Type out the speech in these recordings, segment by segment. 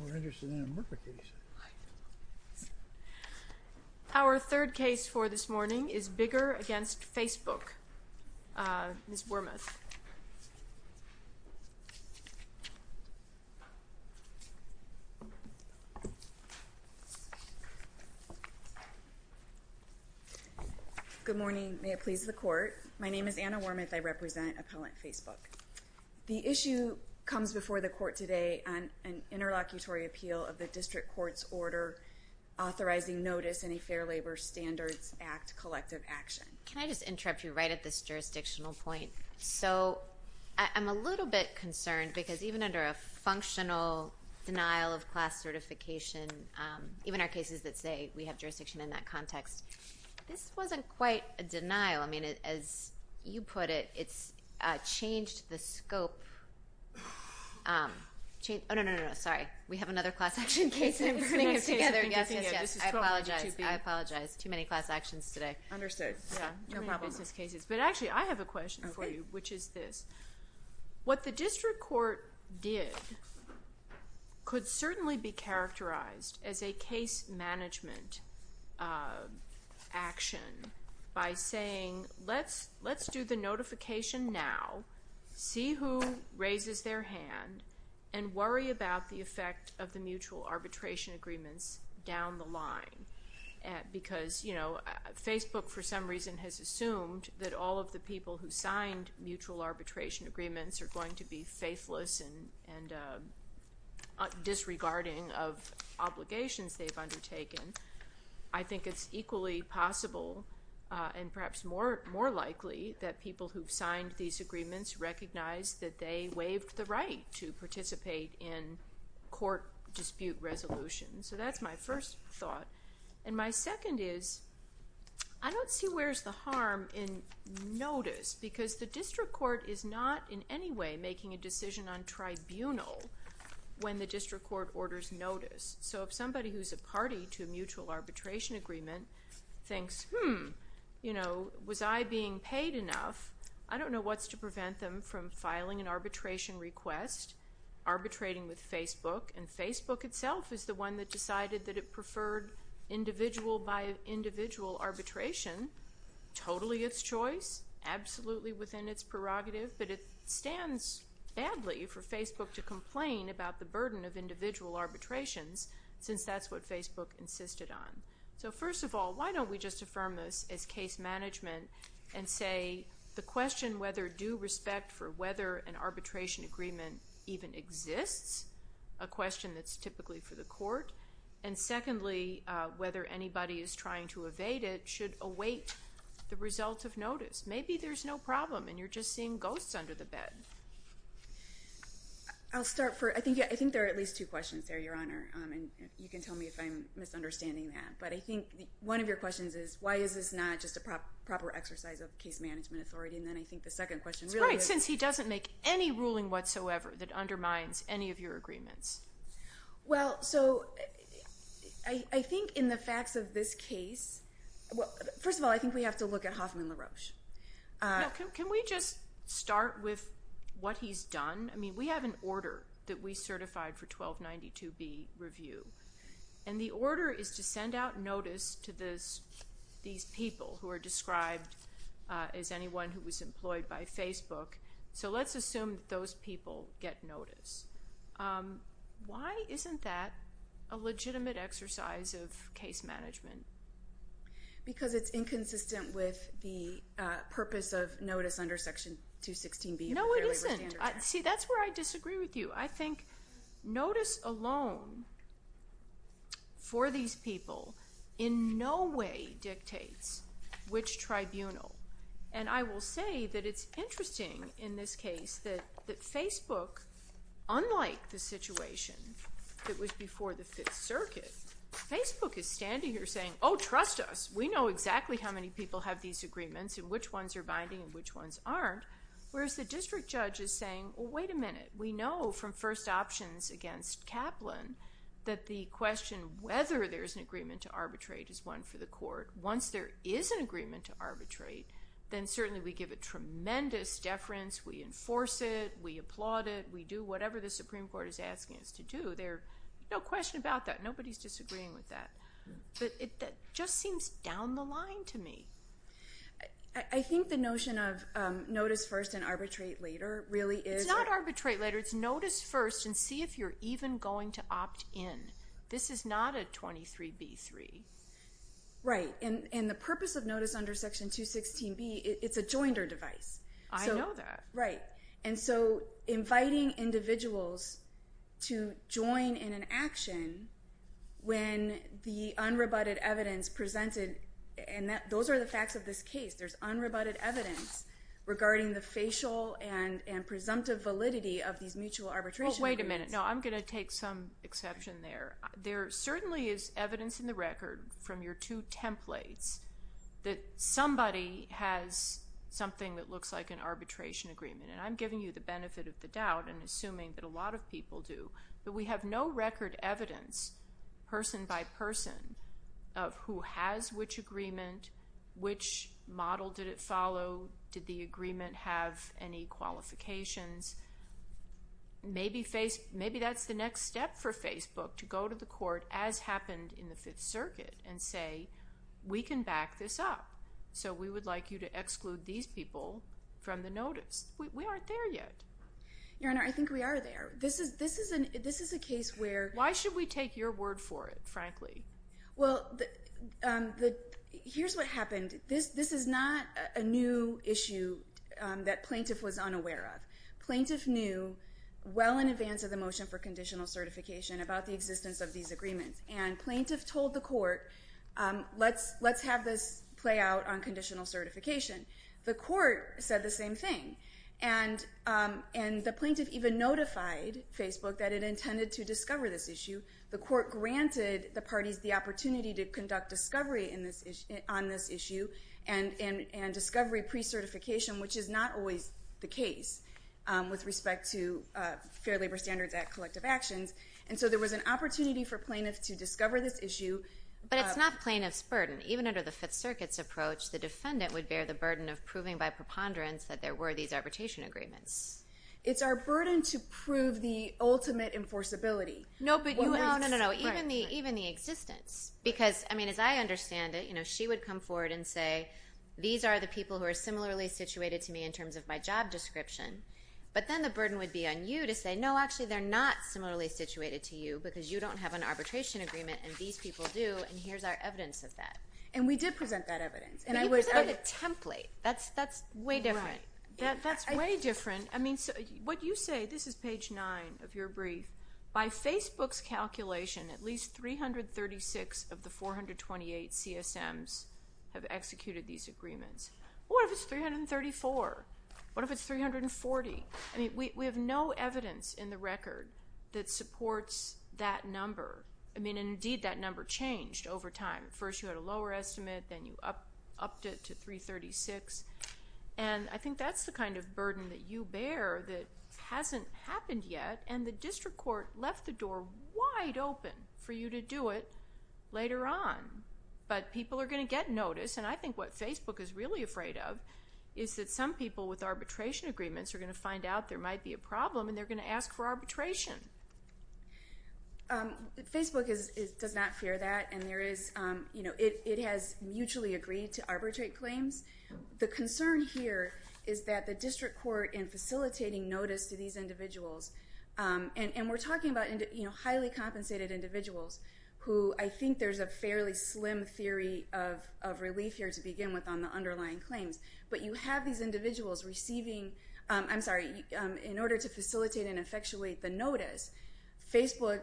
Kathing Anderson v. Tıpec, Inc. Our third case for this morning is Bigger v. Facebook, Ms. Wormuth. Good morning, may it please the court. My name is Anna Wormuth. I represent Appellant Facebook. The issue comes before the court today on an interlocutory appeal of the district court's order authorizing notice in a Fair Labor Standards Act collective action. Can I just interrupt you right at this jurisdictional point? So I'm a little bit concerned because even under a functional denial of class certification, even our cases that say we have jurisdiction in that context, this wasn't quite a denial. I mean, as you put it, it's changed the scope. Oh, no, no, no, sorry. We have another class action case and we're putting it together. Yes, yes, yes. I apologize. I apologize. Too many class actions today. Understood. Yeah. No problem. Too many business cases. But actually, I have a question for you, which is this. What the district court did could certainly be characterized as a case management action by saying, let's do the notification now, see who raises their hand, and worry about the effect of the mutual arbitration agreements down the line. Because Facebook, for some reason, has assumed that all of the people who signed mutual arbitration agreements are going to be faithless and disregarding of obligations they've undertaken. I think it's equally possible, and perhaps more likely, that people who've signed these in court dispute resolutions. So that's my first thought. And my second is, I don't see where's the harm in notice, because the district court is not in any way making a decision on tribunal when the district court orders notice. So if somebody who's a party to a mutual arbitration agreement thinks, hmm, was I being paid enough, I don't know what's to prevent them from filing an arbitration request, arbitrating with Facebook. And Facebook itself is the one that decided that it preferred individual by individual arbitration, totally its choice, absolutely within its prerogative. But it stands badly for Facebook to complain about the burden of individual arbitrations, since that's what Facebook insisted on. So first of all, why don't we just affirm this as case management and say, the question whether due respect for whether an arbitration agreement even exists, a question that's typically for the court, and secondly, whether anybody is trying to evade it should await the result of notice. Maybe there's no problem, and you're just seeing ghosts under the bed. I'll start. I think there are at least two questions there, Your Honor, and you can tell me if I'm misunderstanding that. But I think one of your questions is, why is this not just a proper exercise of case management authority? And then I think the second question really is- Right, since he doesn't make any ruling whatsoever that undermines any of your agreements. Well, so I think in the facts of this case, well, first of all, I think we have to look at Hoffman LaRoche. Can we just start with what he's done? I mean, we have an order that we certified for 1292B review. And the order is to send out notice to these people who are described as anyone who was employed by Facebook. So let's assume that those people get notice. Why isn't that a legitimate exercise of case management? Because it's inconsistent with the purpose of notice under Section 216B of the Fair Labor Standards Act. No, it isn't. See, that's where I disagree with you. I think notice alone for these people in no way dictates which tribunal. And I will say that it's interesting in this case that Facebook, unlike the situation that was before the Fifth Circuit, Facebook is standing here saying, oh, trust us. We know exactly how many people have these agreements and which ones are binding and which ones aren't. Whereas the district judge is saying, well, wait a minute. We know from first options against Kaplan that the question whether there's an agreement to arbitrate is one for the court. Once there is an agreement to arbitrate, then certainly we give a tremendous deference. We enforce it. We applaud it. We do whatever the Supreme Court is asking us to do. No question about that. Nobody's disagreeing with that. But that just seems down the line to me. I think the notion of notice first and arbitrate later really is... It's not arbitrate later. It's notice first and see if you're even going to opt in. This is not a 23b-3. Right. And the purpose of notice under Section 216b, it's a joinder device. I know that. Right. And so inviting individuals to join in an action when the unrebutted evidence presented, and those are the facts of this case. There's unrebutted evidence regarding the facial and presumptive validity of these mutual arbitration agreements. Well, wait a minute. No, I'm going to take some exception there. There certainly is evidence in the record from your two templates that somebody has something that looks like an arbitration agreement, and I'm giving you the benefit of the doubt and assuming that a lot of people do, but we have no record evidence person by person of who has which agreement, which model did it follow, did the agreement have any qualifications. Maybe that's the next step for Facebook to go to the court, as happened in the Fifth Circuit, and say, we can back this up, so we would like you to exclude these people from the notice. We aren't there yet. Your Honor, I think we are there. This is a case where... Why should we take your word for it, frankly? Well, here's what happened. This is not a new issue that plaintiff was unaware of. Plaintiff knew well in advance of the motion for conditional certification about the existence of these agreements, and plaintiff told the court, let's have this play out on conditional certification. The court said the same thing, and the plaintiff even notified Facebook that it intended to The court granted the parties the opportunity to conduct discovery on this issue and discovery pre-certification, which is not always the case with respect to Fair Labor Standards Act collective actions, and so there was an opportunity for plaintiffs to discover this issue. But it's not plaintiff's burden. Even under the Fifth Circuit's approach, the defendant would bear the burden of proving by preponderance that there were these arbitration agreements. It's our burden to prove the ultimate enforceability. No, no, no, no, even the existence, because as I understand it, she would come forward and say, these are the people who are similarly situated to me in terms of my job description, but then the burden would be on you to say, no, actually, they're not similarly situated to you because you don't have an arbitration agreement, and these people do, and here's our evidence of that. And we did present that evidence, and I was... You presented a template. That's way different. That's way different. And, I mean, what you say, this is page nine of your brief, by Facebook's calculation, at least 336 of the 428 CSMs have executed these agreements. What if it's 334? What if it's 340? I mean, we have no evidence in the record that supports that number. I mean, and indeed, that number changed over time. First, you had a lower estimate, then you upped it to 336, and I think that's the kind of burden that you bear that hasn't happened yet, and the district court left the door wide open for you to do it later on, but people are going to get notice, and I think what Facebook is really afraid of is that some people with arbitration agreements are going to find out there might be a problem, and they're going to ask for arbitration. Facebook does not fear that, and there is... It has mutually agreed to arbitrate claims. The concern here is that the district court, in facilitating notice to these individuals, and we're talking about highly compensated individuals, who I think there's a fairly slim theory of relief here to begin with on the underlying claims, but you have these individuals receiving, I'm sorry, in order to facilitate and effectuate the notice, Facebook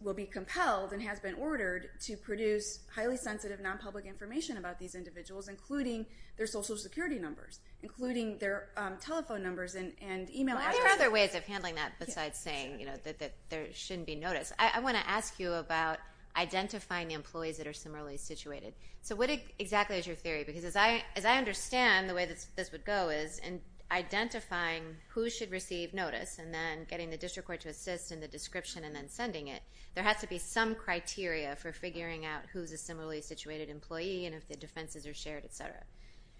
will be compelled and has been ordered to produce highly sensitive non-public information about these individuals, including their social security numbers, including their telephone numbers and email addresses. Why are there other ways of handling that besides saying that there shouldn't be notice? I want to ask you about identifying the employees that are similarly situated. So what exactly is your theory, because as I understand the way this would go is in identifying who should receive notice and then getting the district court to assist in the description and then sending it, there has to be some criteria for figuring out who's a similarly situated employee and if the defenses are shared, et cetera.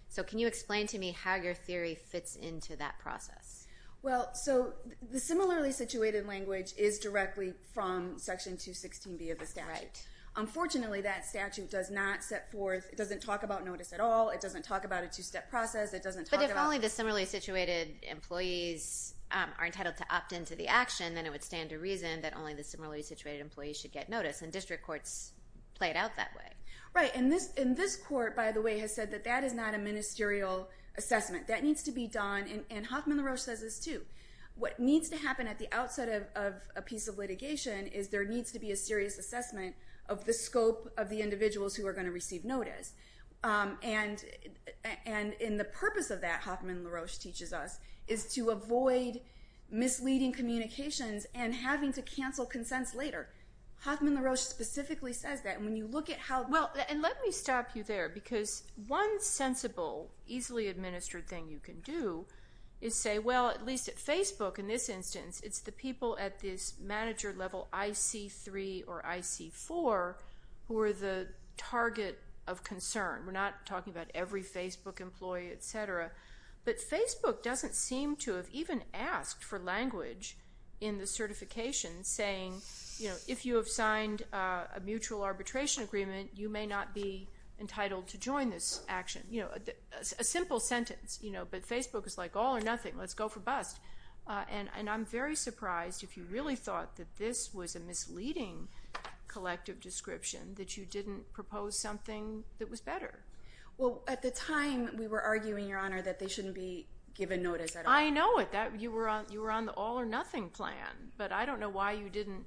So can you explain to me how your theory fits into that process? Well, so the similarly situated language is directly from Section 216B of the statute. Unfortunately, that statute does not set forth, it doesn't talk about notice at all, it doesn't talk about a two-step process, it doesn't talk about... But if only the similarly situated employees are entitled to opt into the action, then it would stand to reason that only the similarly situated employees should get notice, and Right, and this court, by the way, has said that that is not a ministerial assessment. That needs to be done, and Hoffman-LaRoche says this too. What needs to happen at the outset of a piece of litigation is there needs to be a serious assessment of the scope of the individuals who are going to receive notice. And the purpose of that, Hoffman-LaRoche teaches us, is to avoid misleading communications and having to cancel consents later. Hoffman-LaRoche specifically says that, and when you look at how... Well, and let me stop you there, because one sensible, easily administered thing you can do is say, well, at least at Facebook, in this instance, it's the people at this manager level IC3 or IC4 who are the target of concern. We're not talking about every Facebook employee, etc., but Facebook doesn't seem to have even asked for language in the certification saying, you know, if you have signed a mutual arbitration agreement, you may not be entitled to join this action. You know, a simple sentence, you know, but Facebook is like, all or nothing, let's go for bust, and I'm very surprised if you really thought that this was a misleading collective description that you didn't propose something that was better. Well, at the time, we were arguing, Your Honor, that they shouldn't be given notice at all. I know it. You were on the all or nothing plan, but I don't know why you didn't,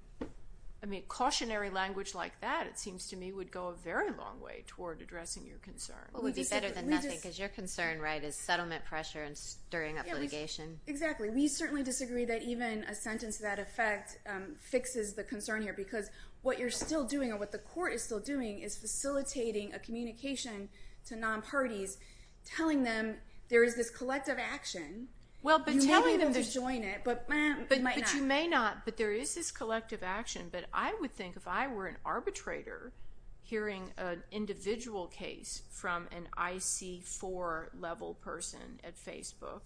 I mean, cautionary language like that, it seems to me, would go a very long way toward addressing your concern. Well, it would be better than nothing, because your concern, right, is settlement pressure and stirring up litigation. Exactly. We certainly disagree that even a sentence to that effect fixes the concern here, because what you're still doing, or what the court is still doing, is facilitating a communication to non-parties, telling them there is this collective action. You may be able to join it, but you might not. But you may not, but there is this collective action, but I would think if I were an arbitrator hearing an individual case from an IC4 level person at Facebook,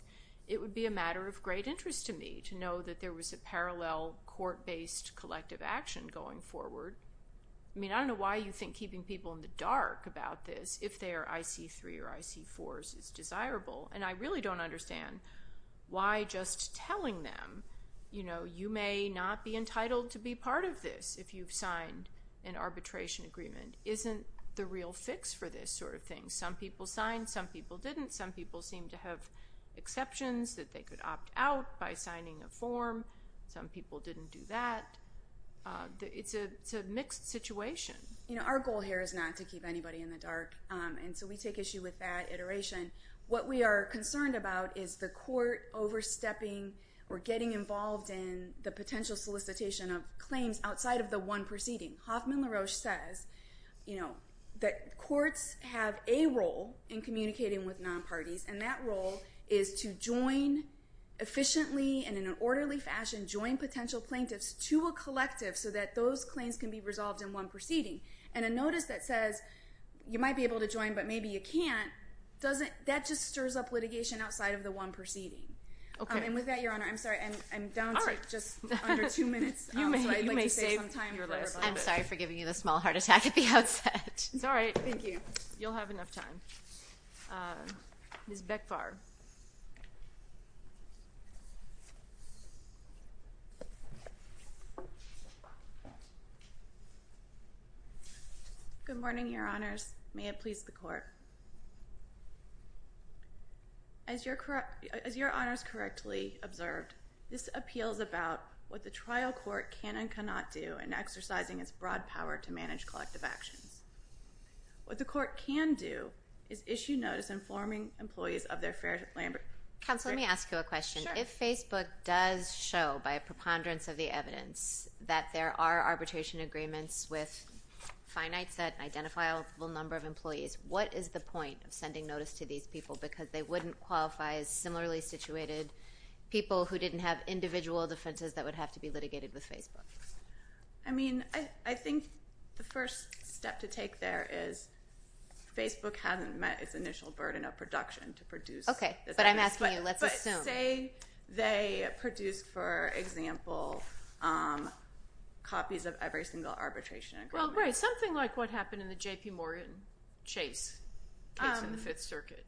it would be a matter of great interest to me to know that there was a parallel court-based collective action going forward. I mean, I don't know why you think keeping people in the dark about this, if they are IC3 or IC4s, is desirable. And I really don't understand why just telling them, you know, you may not be entitled to be part of this if you've signed an arbitration agreement, isn't the real fix for this sort of thing. Some people signed, some people didn't. Some people seemed to have exceptions that they could opt out by signing a form. Some people didn't do that. It's a mixed situation. Our goal here is not to keep anybody in the dark, and so we take issue with that iteration. What we are concerned about is the court overstepping or getting involved in the potential solicitation of claims outside of the one proceeding. Hoffman LaRoche says that courts have a role in communicating with non-parties, and that role is to join efficiently and in an orderly fashion, join potential plaintiffs to a collective so that those claims can be resolved in one proceeding. And a notice that says, you might be able to join, but maybe you can't, that just stirs up litigation outside of the one proceeding. And with that, Your Honor, I'm sorry, I'm down to just under two minutes, so I'd like to save some time for her. I'm sorry for giving you the small heart attack at the outset. It's all right. Thank you. You'll have enough time. Ms. Bekvar. Good morning, Your Honors. May it please the Court. As Your Honors correctly observed, this appeals about what the trial court can and cannot do in exercising its broad power to manage collective actions. What the court can do is issue notice informing employees of their fair labor. Counsel, let me ask you a question. If Facebook does show, by a preponderance of the evidence, that there are arbitration agreements with a finite, identifiable number of employees, what is the point of sending notice to these people because they wouldn't qualify as similarly situated people who didn't have individual defenses that would have to be litigated with Facebook? I mean, I think the first step to take there is Facebook hasn't met its initial burden of production to produce this evidence, but say they produced, for example, copies of every single arbitration agreement. Well, right. Something like what happened in the J.P. Morgan case in the Fifth Circuit.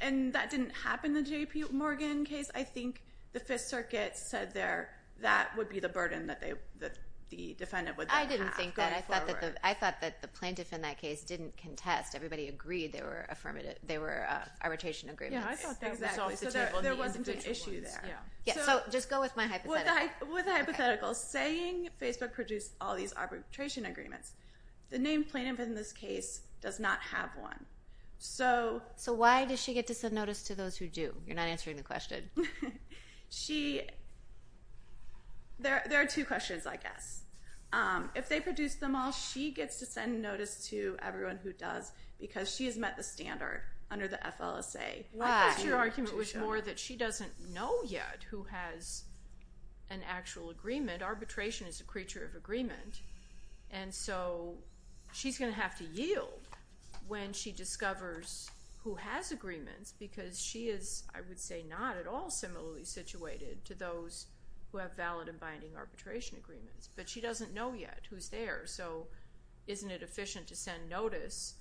And that didn't happen in the J.P. Morgan case. I think the Fifth Circuit said there that would be the burden that the defendant would then have going forward. I didn't think that. I thought that the plaintiff in that case didn't contest. Everybody agreed they were arbitration agreements. Yeah, I thought that was off the table and the individual ones. So there wasn't an issue there. Yeah. So just go with my hypothetical. With a hypothetical. Okay. Saying Facebook produced all these arbitration agreements, the named plaintiff in this case does not have one. So why does she get to send notice to those who do? You're not answering the question. She... There are two questions, I guess. If they produced them all, she gets to send notice to everyone who does because she has met the standard under the FLSA. Why? I guess your argument was more that she doesn't know yet who has an actual agreement. Arbitration is a creature of agreement. And so she's going to have to yield when she discovers who has agreements because she is, I would say, not at all similarly situated to those who have valid and binding arbitration agreements. But she doesn't know yet who's there. So isn't it efficient to send notice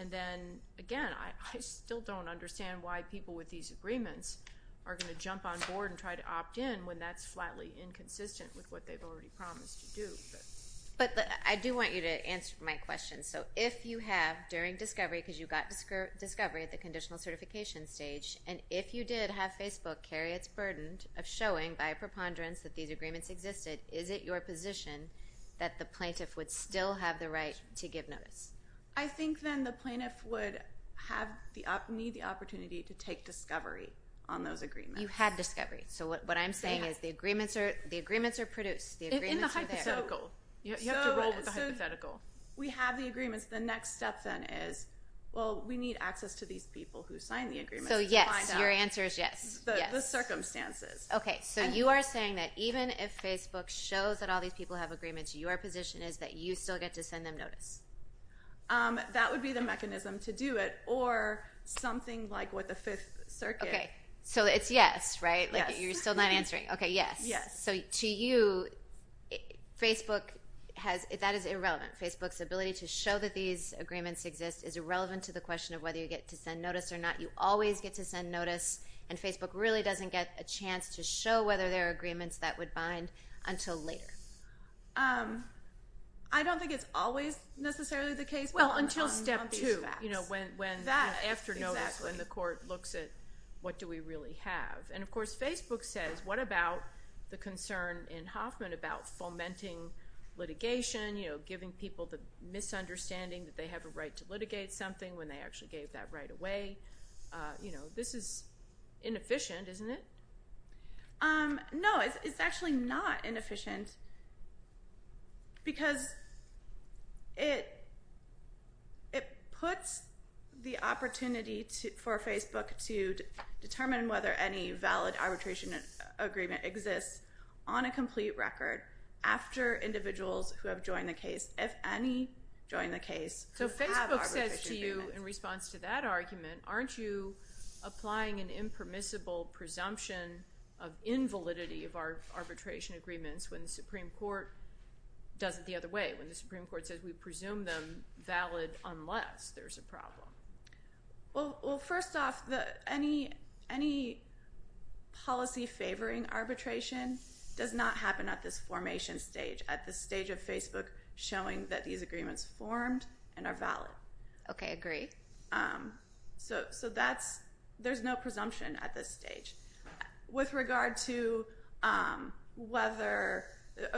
and then, again, I still don't understand why people with these agreements are going to jump on board and try to opt in when that's flatly inconsistent with what they've already promised to do. But I do want you to answer my question. So if you have, during discovery, because you got discovery at the conditional certification stage, and if you did have Facebook carry its burden of showing by a preponderance that these agreements existed, is it your position that the plaintiff would still have the right to give notice? I think then the plaintiff would need the opportunity to take discovery on those agreements. You had discovery. So what I'm saying is the agreements are produced. The agreements are there. In the hypothetical. You have to roll with the hypothetical. We have the agreements. The next step, then, is, well, we need access to these people who signed the agreements to find out. So, yes. Your answer is yes. Yes. The circumstances. Okay. So you are saying that even if Facebook shows that all these people have agreements, your position is that you still get to send them notice? That would be the mechanism to do it. Or something like what the Fifth Circuit. Okay. So it's yes, right? Yes. You're still not answering. Okay. Yes. Yes. So to you, Facebook has, that is irrelevant. Facebook's ability to show that these agreements exist is irrelevant to the question of whether you get to send notice or not. You always get to send notice, and Facebook really doesn't get a chance to show whether there are agreements that would bind until later. Well, until step two. On these facts. That. Exactly. And the court looks at, what do we really have? And of course, Facebook says, what about the concern in Hoffman about fomenting litigation, you know, giving people the misunderstanding that they have a right to litigate something when they actually gave that right away? You know, this is inefficient, isn't it? No. It's actually not inefficient because it puts the opportunity for Facebook to determine whether any valid arbitration agreement exists on a complete record after individuals who have joined the case, if any join the case, have arbitration agreements. So Facebook says to you, in response to that argument, aren't you applying an impermissible presumption of invalidity of our arbitration agreements when the Supreme Court does it the other way? When the Supreme Court says we presume them valid unless there's a problem? Well, first off, any policy favoring arbitration does not happen at this formation stage, at the stage of Facebook showing that these agreements formed and are valid. Okay, agree. So that's, there's no presumption at this stage. With regard to whether,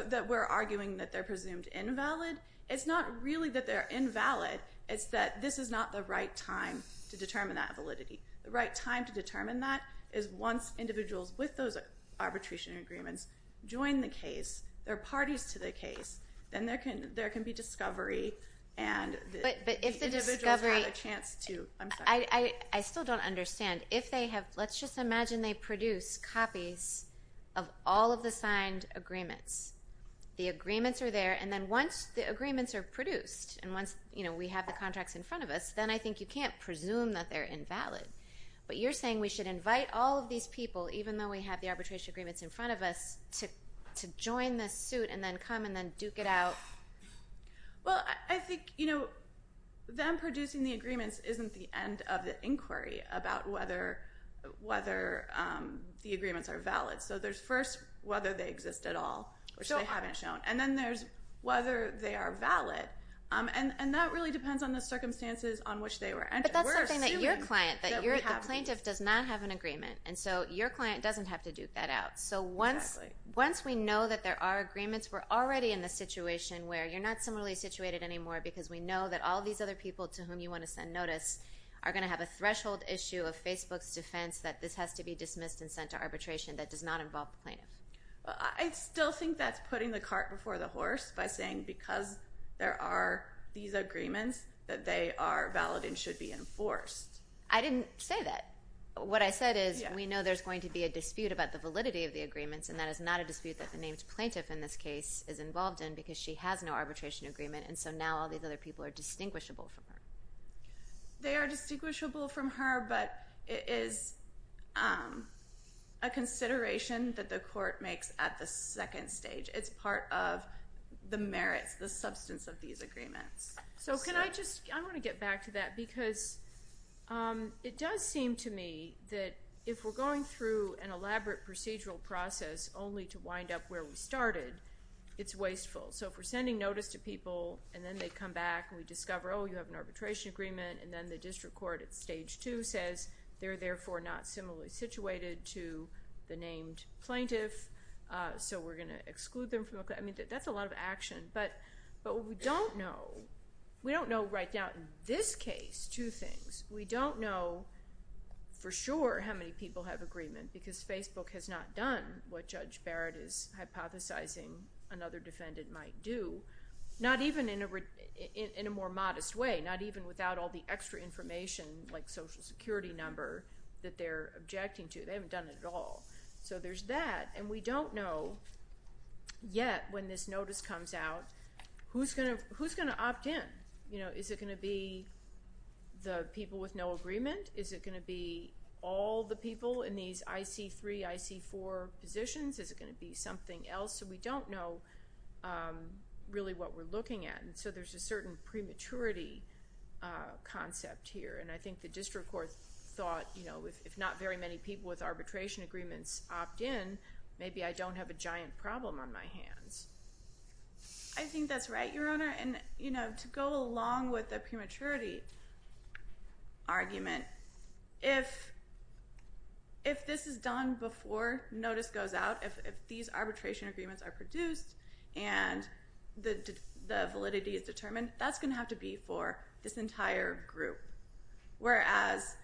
that we're arguing that they're presumed invalid, it's not really that they're invalid, it's that this is not the right time to determine that validity. The right time to determine that is once individuals with those arbitration agreements join the case, they're parties to the case, then there can be discovery and the individuals who have a chance to, I'm sorry. I still don't understand. If they have, let's just imagine they produce copies of all of the signed agreements. The agreements are there, and then once the agreements are produced, and once, you know, we have the contracts in front of us, then I think you can't presume that they're invalid. But you're saying we should invite all of these people, even though we have the arbitration agreements in front of us, to join the suit and then come and then duke it out? Well, I think, you know, them producing the agreements isn't the end of the inquiry about whether the agreements are valid. So there's first whether they exist at all, which they haven't shown, and then there's whether they are valid, and that really depends on the circumstances on which they were entered. But that's something that your client, that the plaintiff does not have an agreement, and so your client doesn't have to duke that out. So once we know that there are agreements, we're already in the situation where you're not similarly situated anymore because we know that all these other people to whom you want to send notice are going to have a threshold issue of Facebook's defense that this has to be dismissed and sent to arbitration that does not involve the plaintiff. I still think that's putting the cart before the horse by saying because there are these agreements that they are valid and should be enforced. I didn't say that. What I said is we know there's going to be a dispute about the validity of the agreements, and that is not a dispute that the named plaintiff in this case is involved in because she has no arbitration agreement, and so now all these other people are distinguishable from her. They are distinguishable from her, but it is a consideration that the court makes at the second stage. It's part of the merits, the substance of these agreements. So can I just, I want to get back to that because it does seem to me that if we're going through an elaborate procedural process only to wind up where we started, it's wasteful. So if we're sending notice to people and then they come back and we discover, oh, you have an arbitration agreement, and then the district court at stage two says they're therefore not similarly situated to the named plaintiff, so we're going to exclude them from, I mean, that's a lot of action, but what we don't know, we don't know right now in this case two things. We don't know for sure how many people have agreement because Facebook has not done what Judge Barrett is hypothesizing another defendant might do, not even in a more modest way, not even without all the extra information like social security number that they're objecting to. They haven't done it at all. So there's that, and we don't know yet when this notice comes out who's going to opt in. Is it going to be the people with no agreement? Is it going to be all the people in these IC3, IC4 positions? Is it going to be something else? So we don't know really what we're looking at, and so there's a certain prematurity concept here, and I think the district court thought if not very many people with arbitration agreements opt in, maybe I don't have a giant problem on my hands. I think that's right, Your Honor, and to go along with the prematurity argument, if this is done before notice goes out, if these arbitration agreements are produced and the validity is determined, that's going to have to be for this entire group, whereas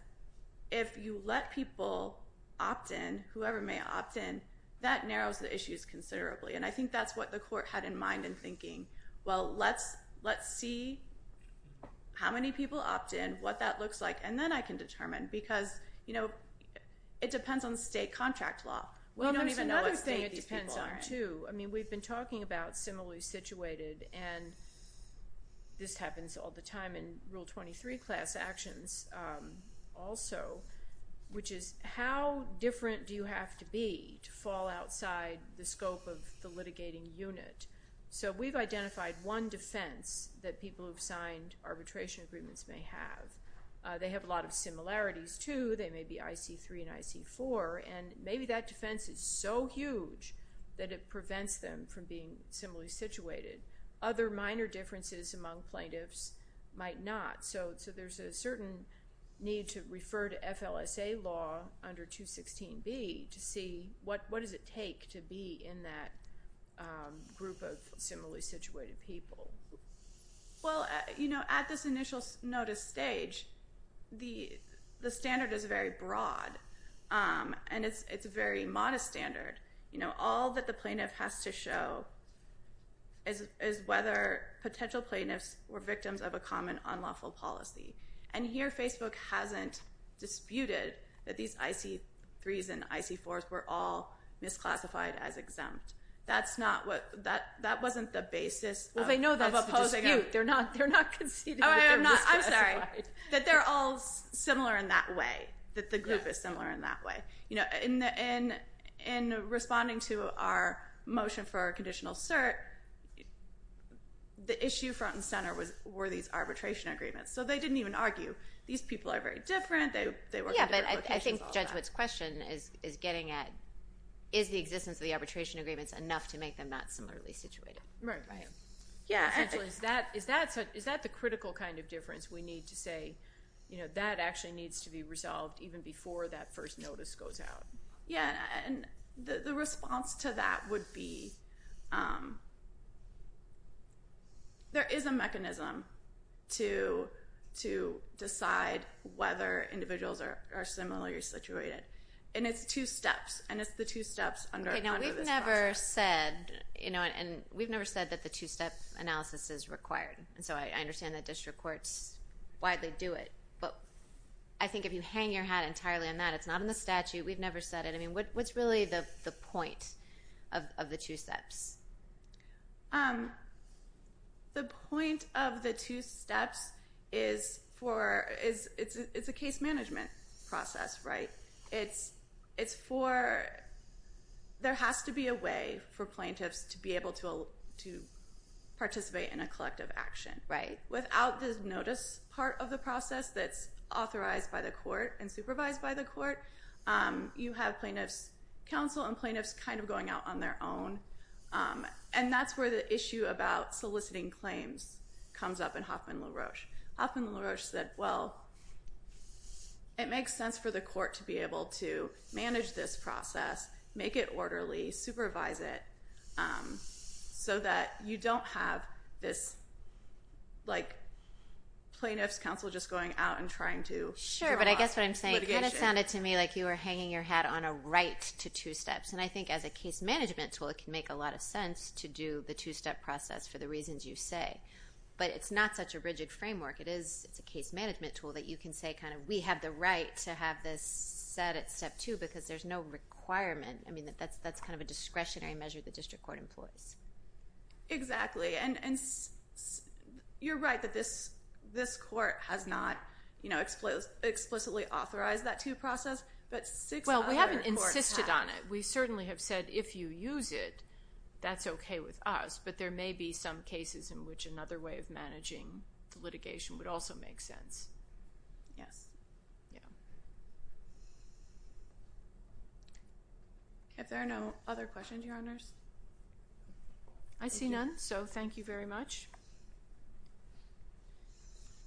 if you let people opt in, whoever may opt in, that narrows the issues considerably, and I think that's what the court had in mind in thinking, well, let's see how many people opt in, what that looks like, and then I can determine, because it depends on state contract law. We don't even know what state these people are in. Well, there's another thing it depends on, too. I mean, we've been talking about similarly situated, and this happens all the time in Rule 23 class actions also, which is how different do you have to be to fall outside the scope of the litigating unit? So we've identified one defense that people who've signed arbitration agreements may have. They have a lot of similarities, too. They may be IC3 and IC4, and maybe that defense is so huge that it prevents them from being similarly situated. Other minor differences among plaintiffs might not. So there's a certain need to refer to FLSA law under 216B to see what does it take to be in that group of similarly situated people. Well, at this initial notice stage, the standard is very broad, and it's a very modest standard. All that the plaintiff has to show is whether potential plaintiffs were victims of a common unlawful policy. And here, Facebook hasn't disputed that these IC3s and IC4s were all misclassified as exempt. That wasn't the basis of opposing it. Well, they know that's a dispute. They're not conceding that they're misclassified. I'm sorry. That they're all similar in that way, that the group is similar in that way. And in responding to our motion for our conditional cert, the issue front and center were these arbitration agreements. So they didn't even argue, these people are very different, they work in different locations. Yeah, but I think Judge Whitt's question is getting at, is the existence of the arbitration agreements enough to make them not similarly situated? Right. Essentially, is that the critical kind of difference we need to say, that actually needs to be resolved even before that first notice goes out? Yeah, and the response to that would be, there is a mechanism to decide whether individuals are similarly situated. And it's two steps, and it's the two steps under this process. Okay, now we've never said, and we've never said that the two-step analysis is required. And so I understand that district courts widely do it. But I think if you hang your hat entirely on that, it's not in the statute, we've never said it, I mean, what's really the point of the two steps? The point of the two steps is for, it's a case management process, right? It's for, there has to be a way for plaintiffs to be able to participate in a collective action. Right. Without this notice part of the process that's authorized by the court and supervised by the court, you have plaintiffs' counsel and plaintiffs kind of going out on their own. And that's where the issue about soliciting claims comes up in Hoffman LaRoche. Hoffman LaRoche said, well, it makes sense for the court to be able to manage this process, make it orderly, supervise it, so that you don't have this, like, plaintiffs' counsel just going out and trying to draw litigation. Sure, but I guess what I'm saying, it kind of sounded to me like you were hanging your hat on a right to two steps. And I think as a case management tool, it can make a lot of sense to do the two-step process for the reasons you say. But it's not such a rigid framework. It is, it's a case management tool that you can say kind of, we have the right to have this set at step two, because there's no requirement. I mean, that's kind of a discretionary measure the district court employs. Exactly. And you're right that this court has not explicitly authorized that two-step process, but six other courts have. Well, we haven't insisted on it. We certainly have said, if you use it, that's okay with us, but there may be some cases in which another way of managing litigation would also make sense. Yes. Yeah. If there are no other questions, Your Honors. I see none, so thank you very much.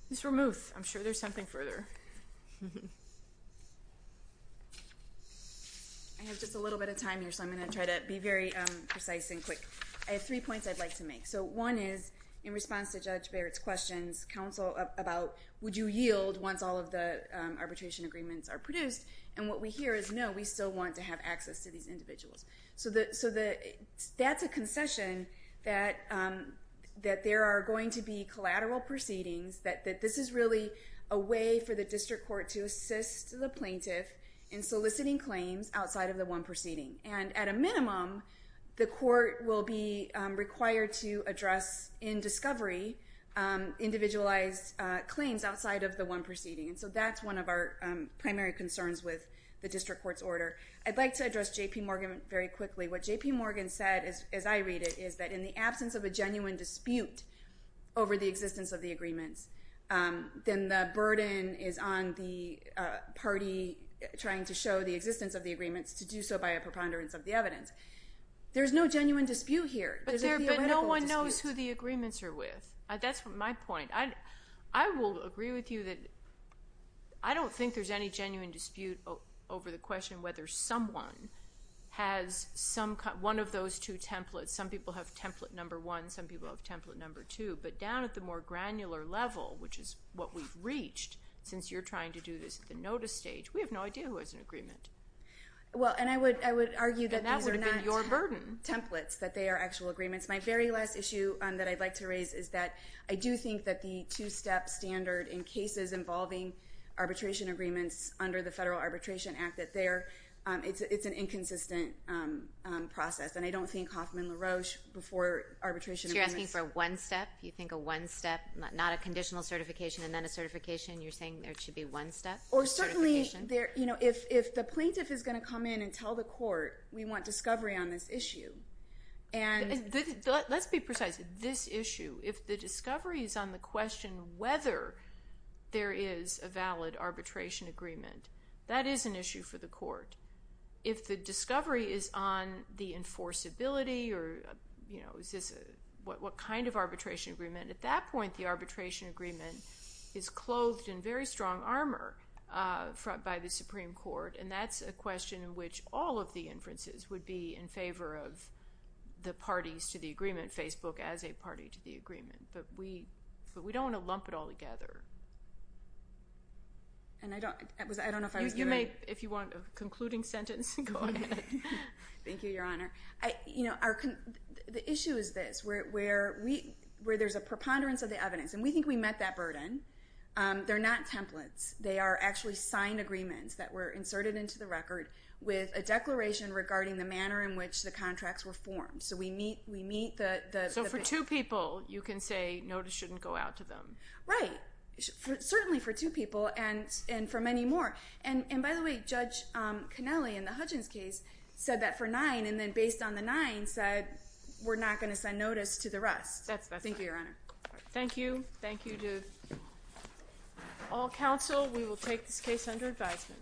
Ms. Ramuth, I'm sure there's something further. I have just a little bit of time here, so I'm going to try to be very precise and quick. I have three points I'd like to make. So one is, in response to Judge Barrett's questions, counsel, about, would you yield once all of the arbitration agreements are produced? And what we hear is, no, we still want to have access to these individuals. So that's a concession that there are going to be collateral proceedings, that this is really a way for the district court to assist the plaintiff in soliciting claims outside of the one proceeding. And at a minimum, the court will be required to address, in discovery, individualized claims outside of the one proceeding. And so that's one of our primary concerns with the district court's order. I'd like to address J.P. Morgan very quickly. What J.P. Morgan said, as I read it, is that in the absence of a genuine dispute over the existence of the agreements, then the burden is on the party trying to show the existence of the agreements to do so by a preponderance of the evidence. There's no genuine dispute here. There's a theoretical dispute. But no one knows who the agreements are with. That's my point. I will agree with you that I don't think there's any genuine dispute over the question whether someone has one of those two templates. Some people have template number one. Some people have template number two. But down at the more granular level, which is what we've reached, since you're trying to do this at the notice stage, we have no idea who has an agreement. And that would have been your burden. Well, and I would argue that these are not templates, that they are actual agreements. My very last issue that I'd like to raise is that I do think that the two-step standard in cases involving arbitration agreements under the Federal Arbitration Act, that it's an inconsistent process. And I don't think Hoffman LaRoche, before arbitration agreements — So you're asking for one step? You think a one step, not a conditional certification and then a certification? You're saying there should be one step certification? Or certainly, if the plaintiff is going to come in and tell the court, we want discovery on this issue, and — Let's be precise. This issue. If the discovery is on the question whether there is a valid arbitration agreement, that is an issue for the court. If the discovery is on the enforceability or what kind of arbitration agreement, at that point the arbitration agreement is clothed in very strong armor by the Supreme Court, and that's a question in which all of the inferences would be in favor of the parties to the agreement, Facebook as a party to the agreement. But we don't want to lump it all together. And I don't — I don't know if I was doing — If you want a concluding sentence, go ahead. Thank you, Your Honor. The issue is this, where there's a preponderance of the evidence, and we think we met that burden. They're not templates. They are actually signed agreements that were inserted into the record with a declaration regarding the manner in which the contracts were formed. So we meet the — So for two people, you can say notice shouldn't go out to them. Right. Certainly for two people and for many more. And, by the way, Judge Connelly in the Hudgens case said that for nine, and then based on the nine said we're not going to send notice to the rest. That's right. Thank you, Your Honor. Thank you. Thank you to all counsel. We will take this case under advisement.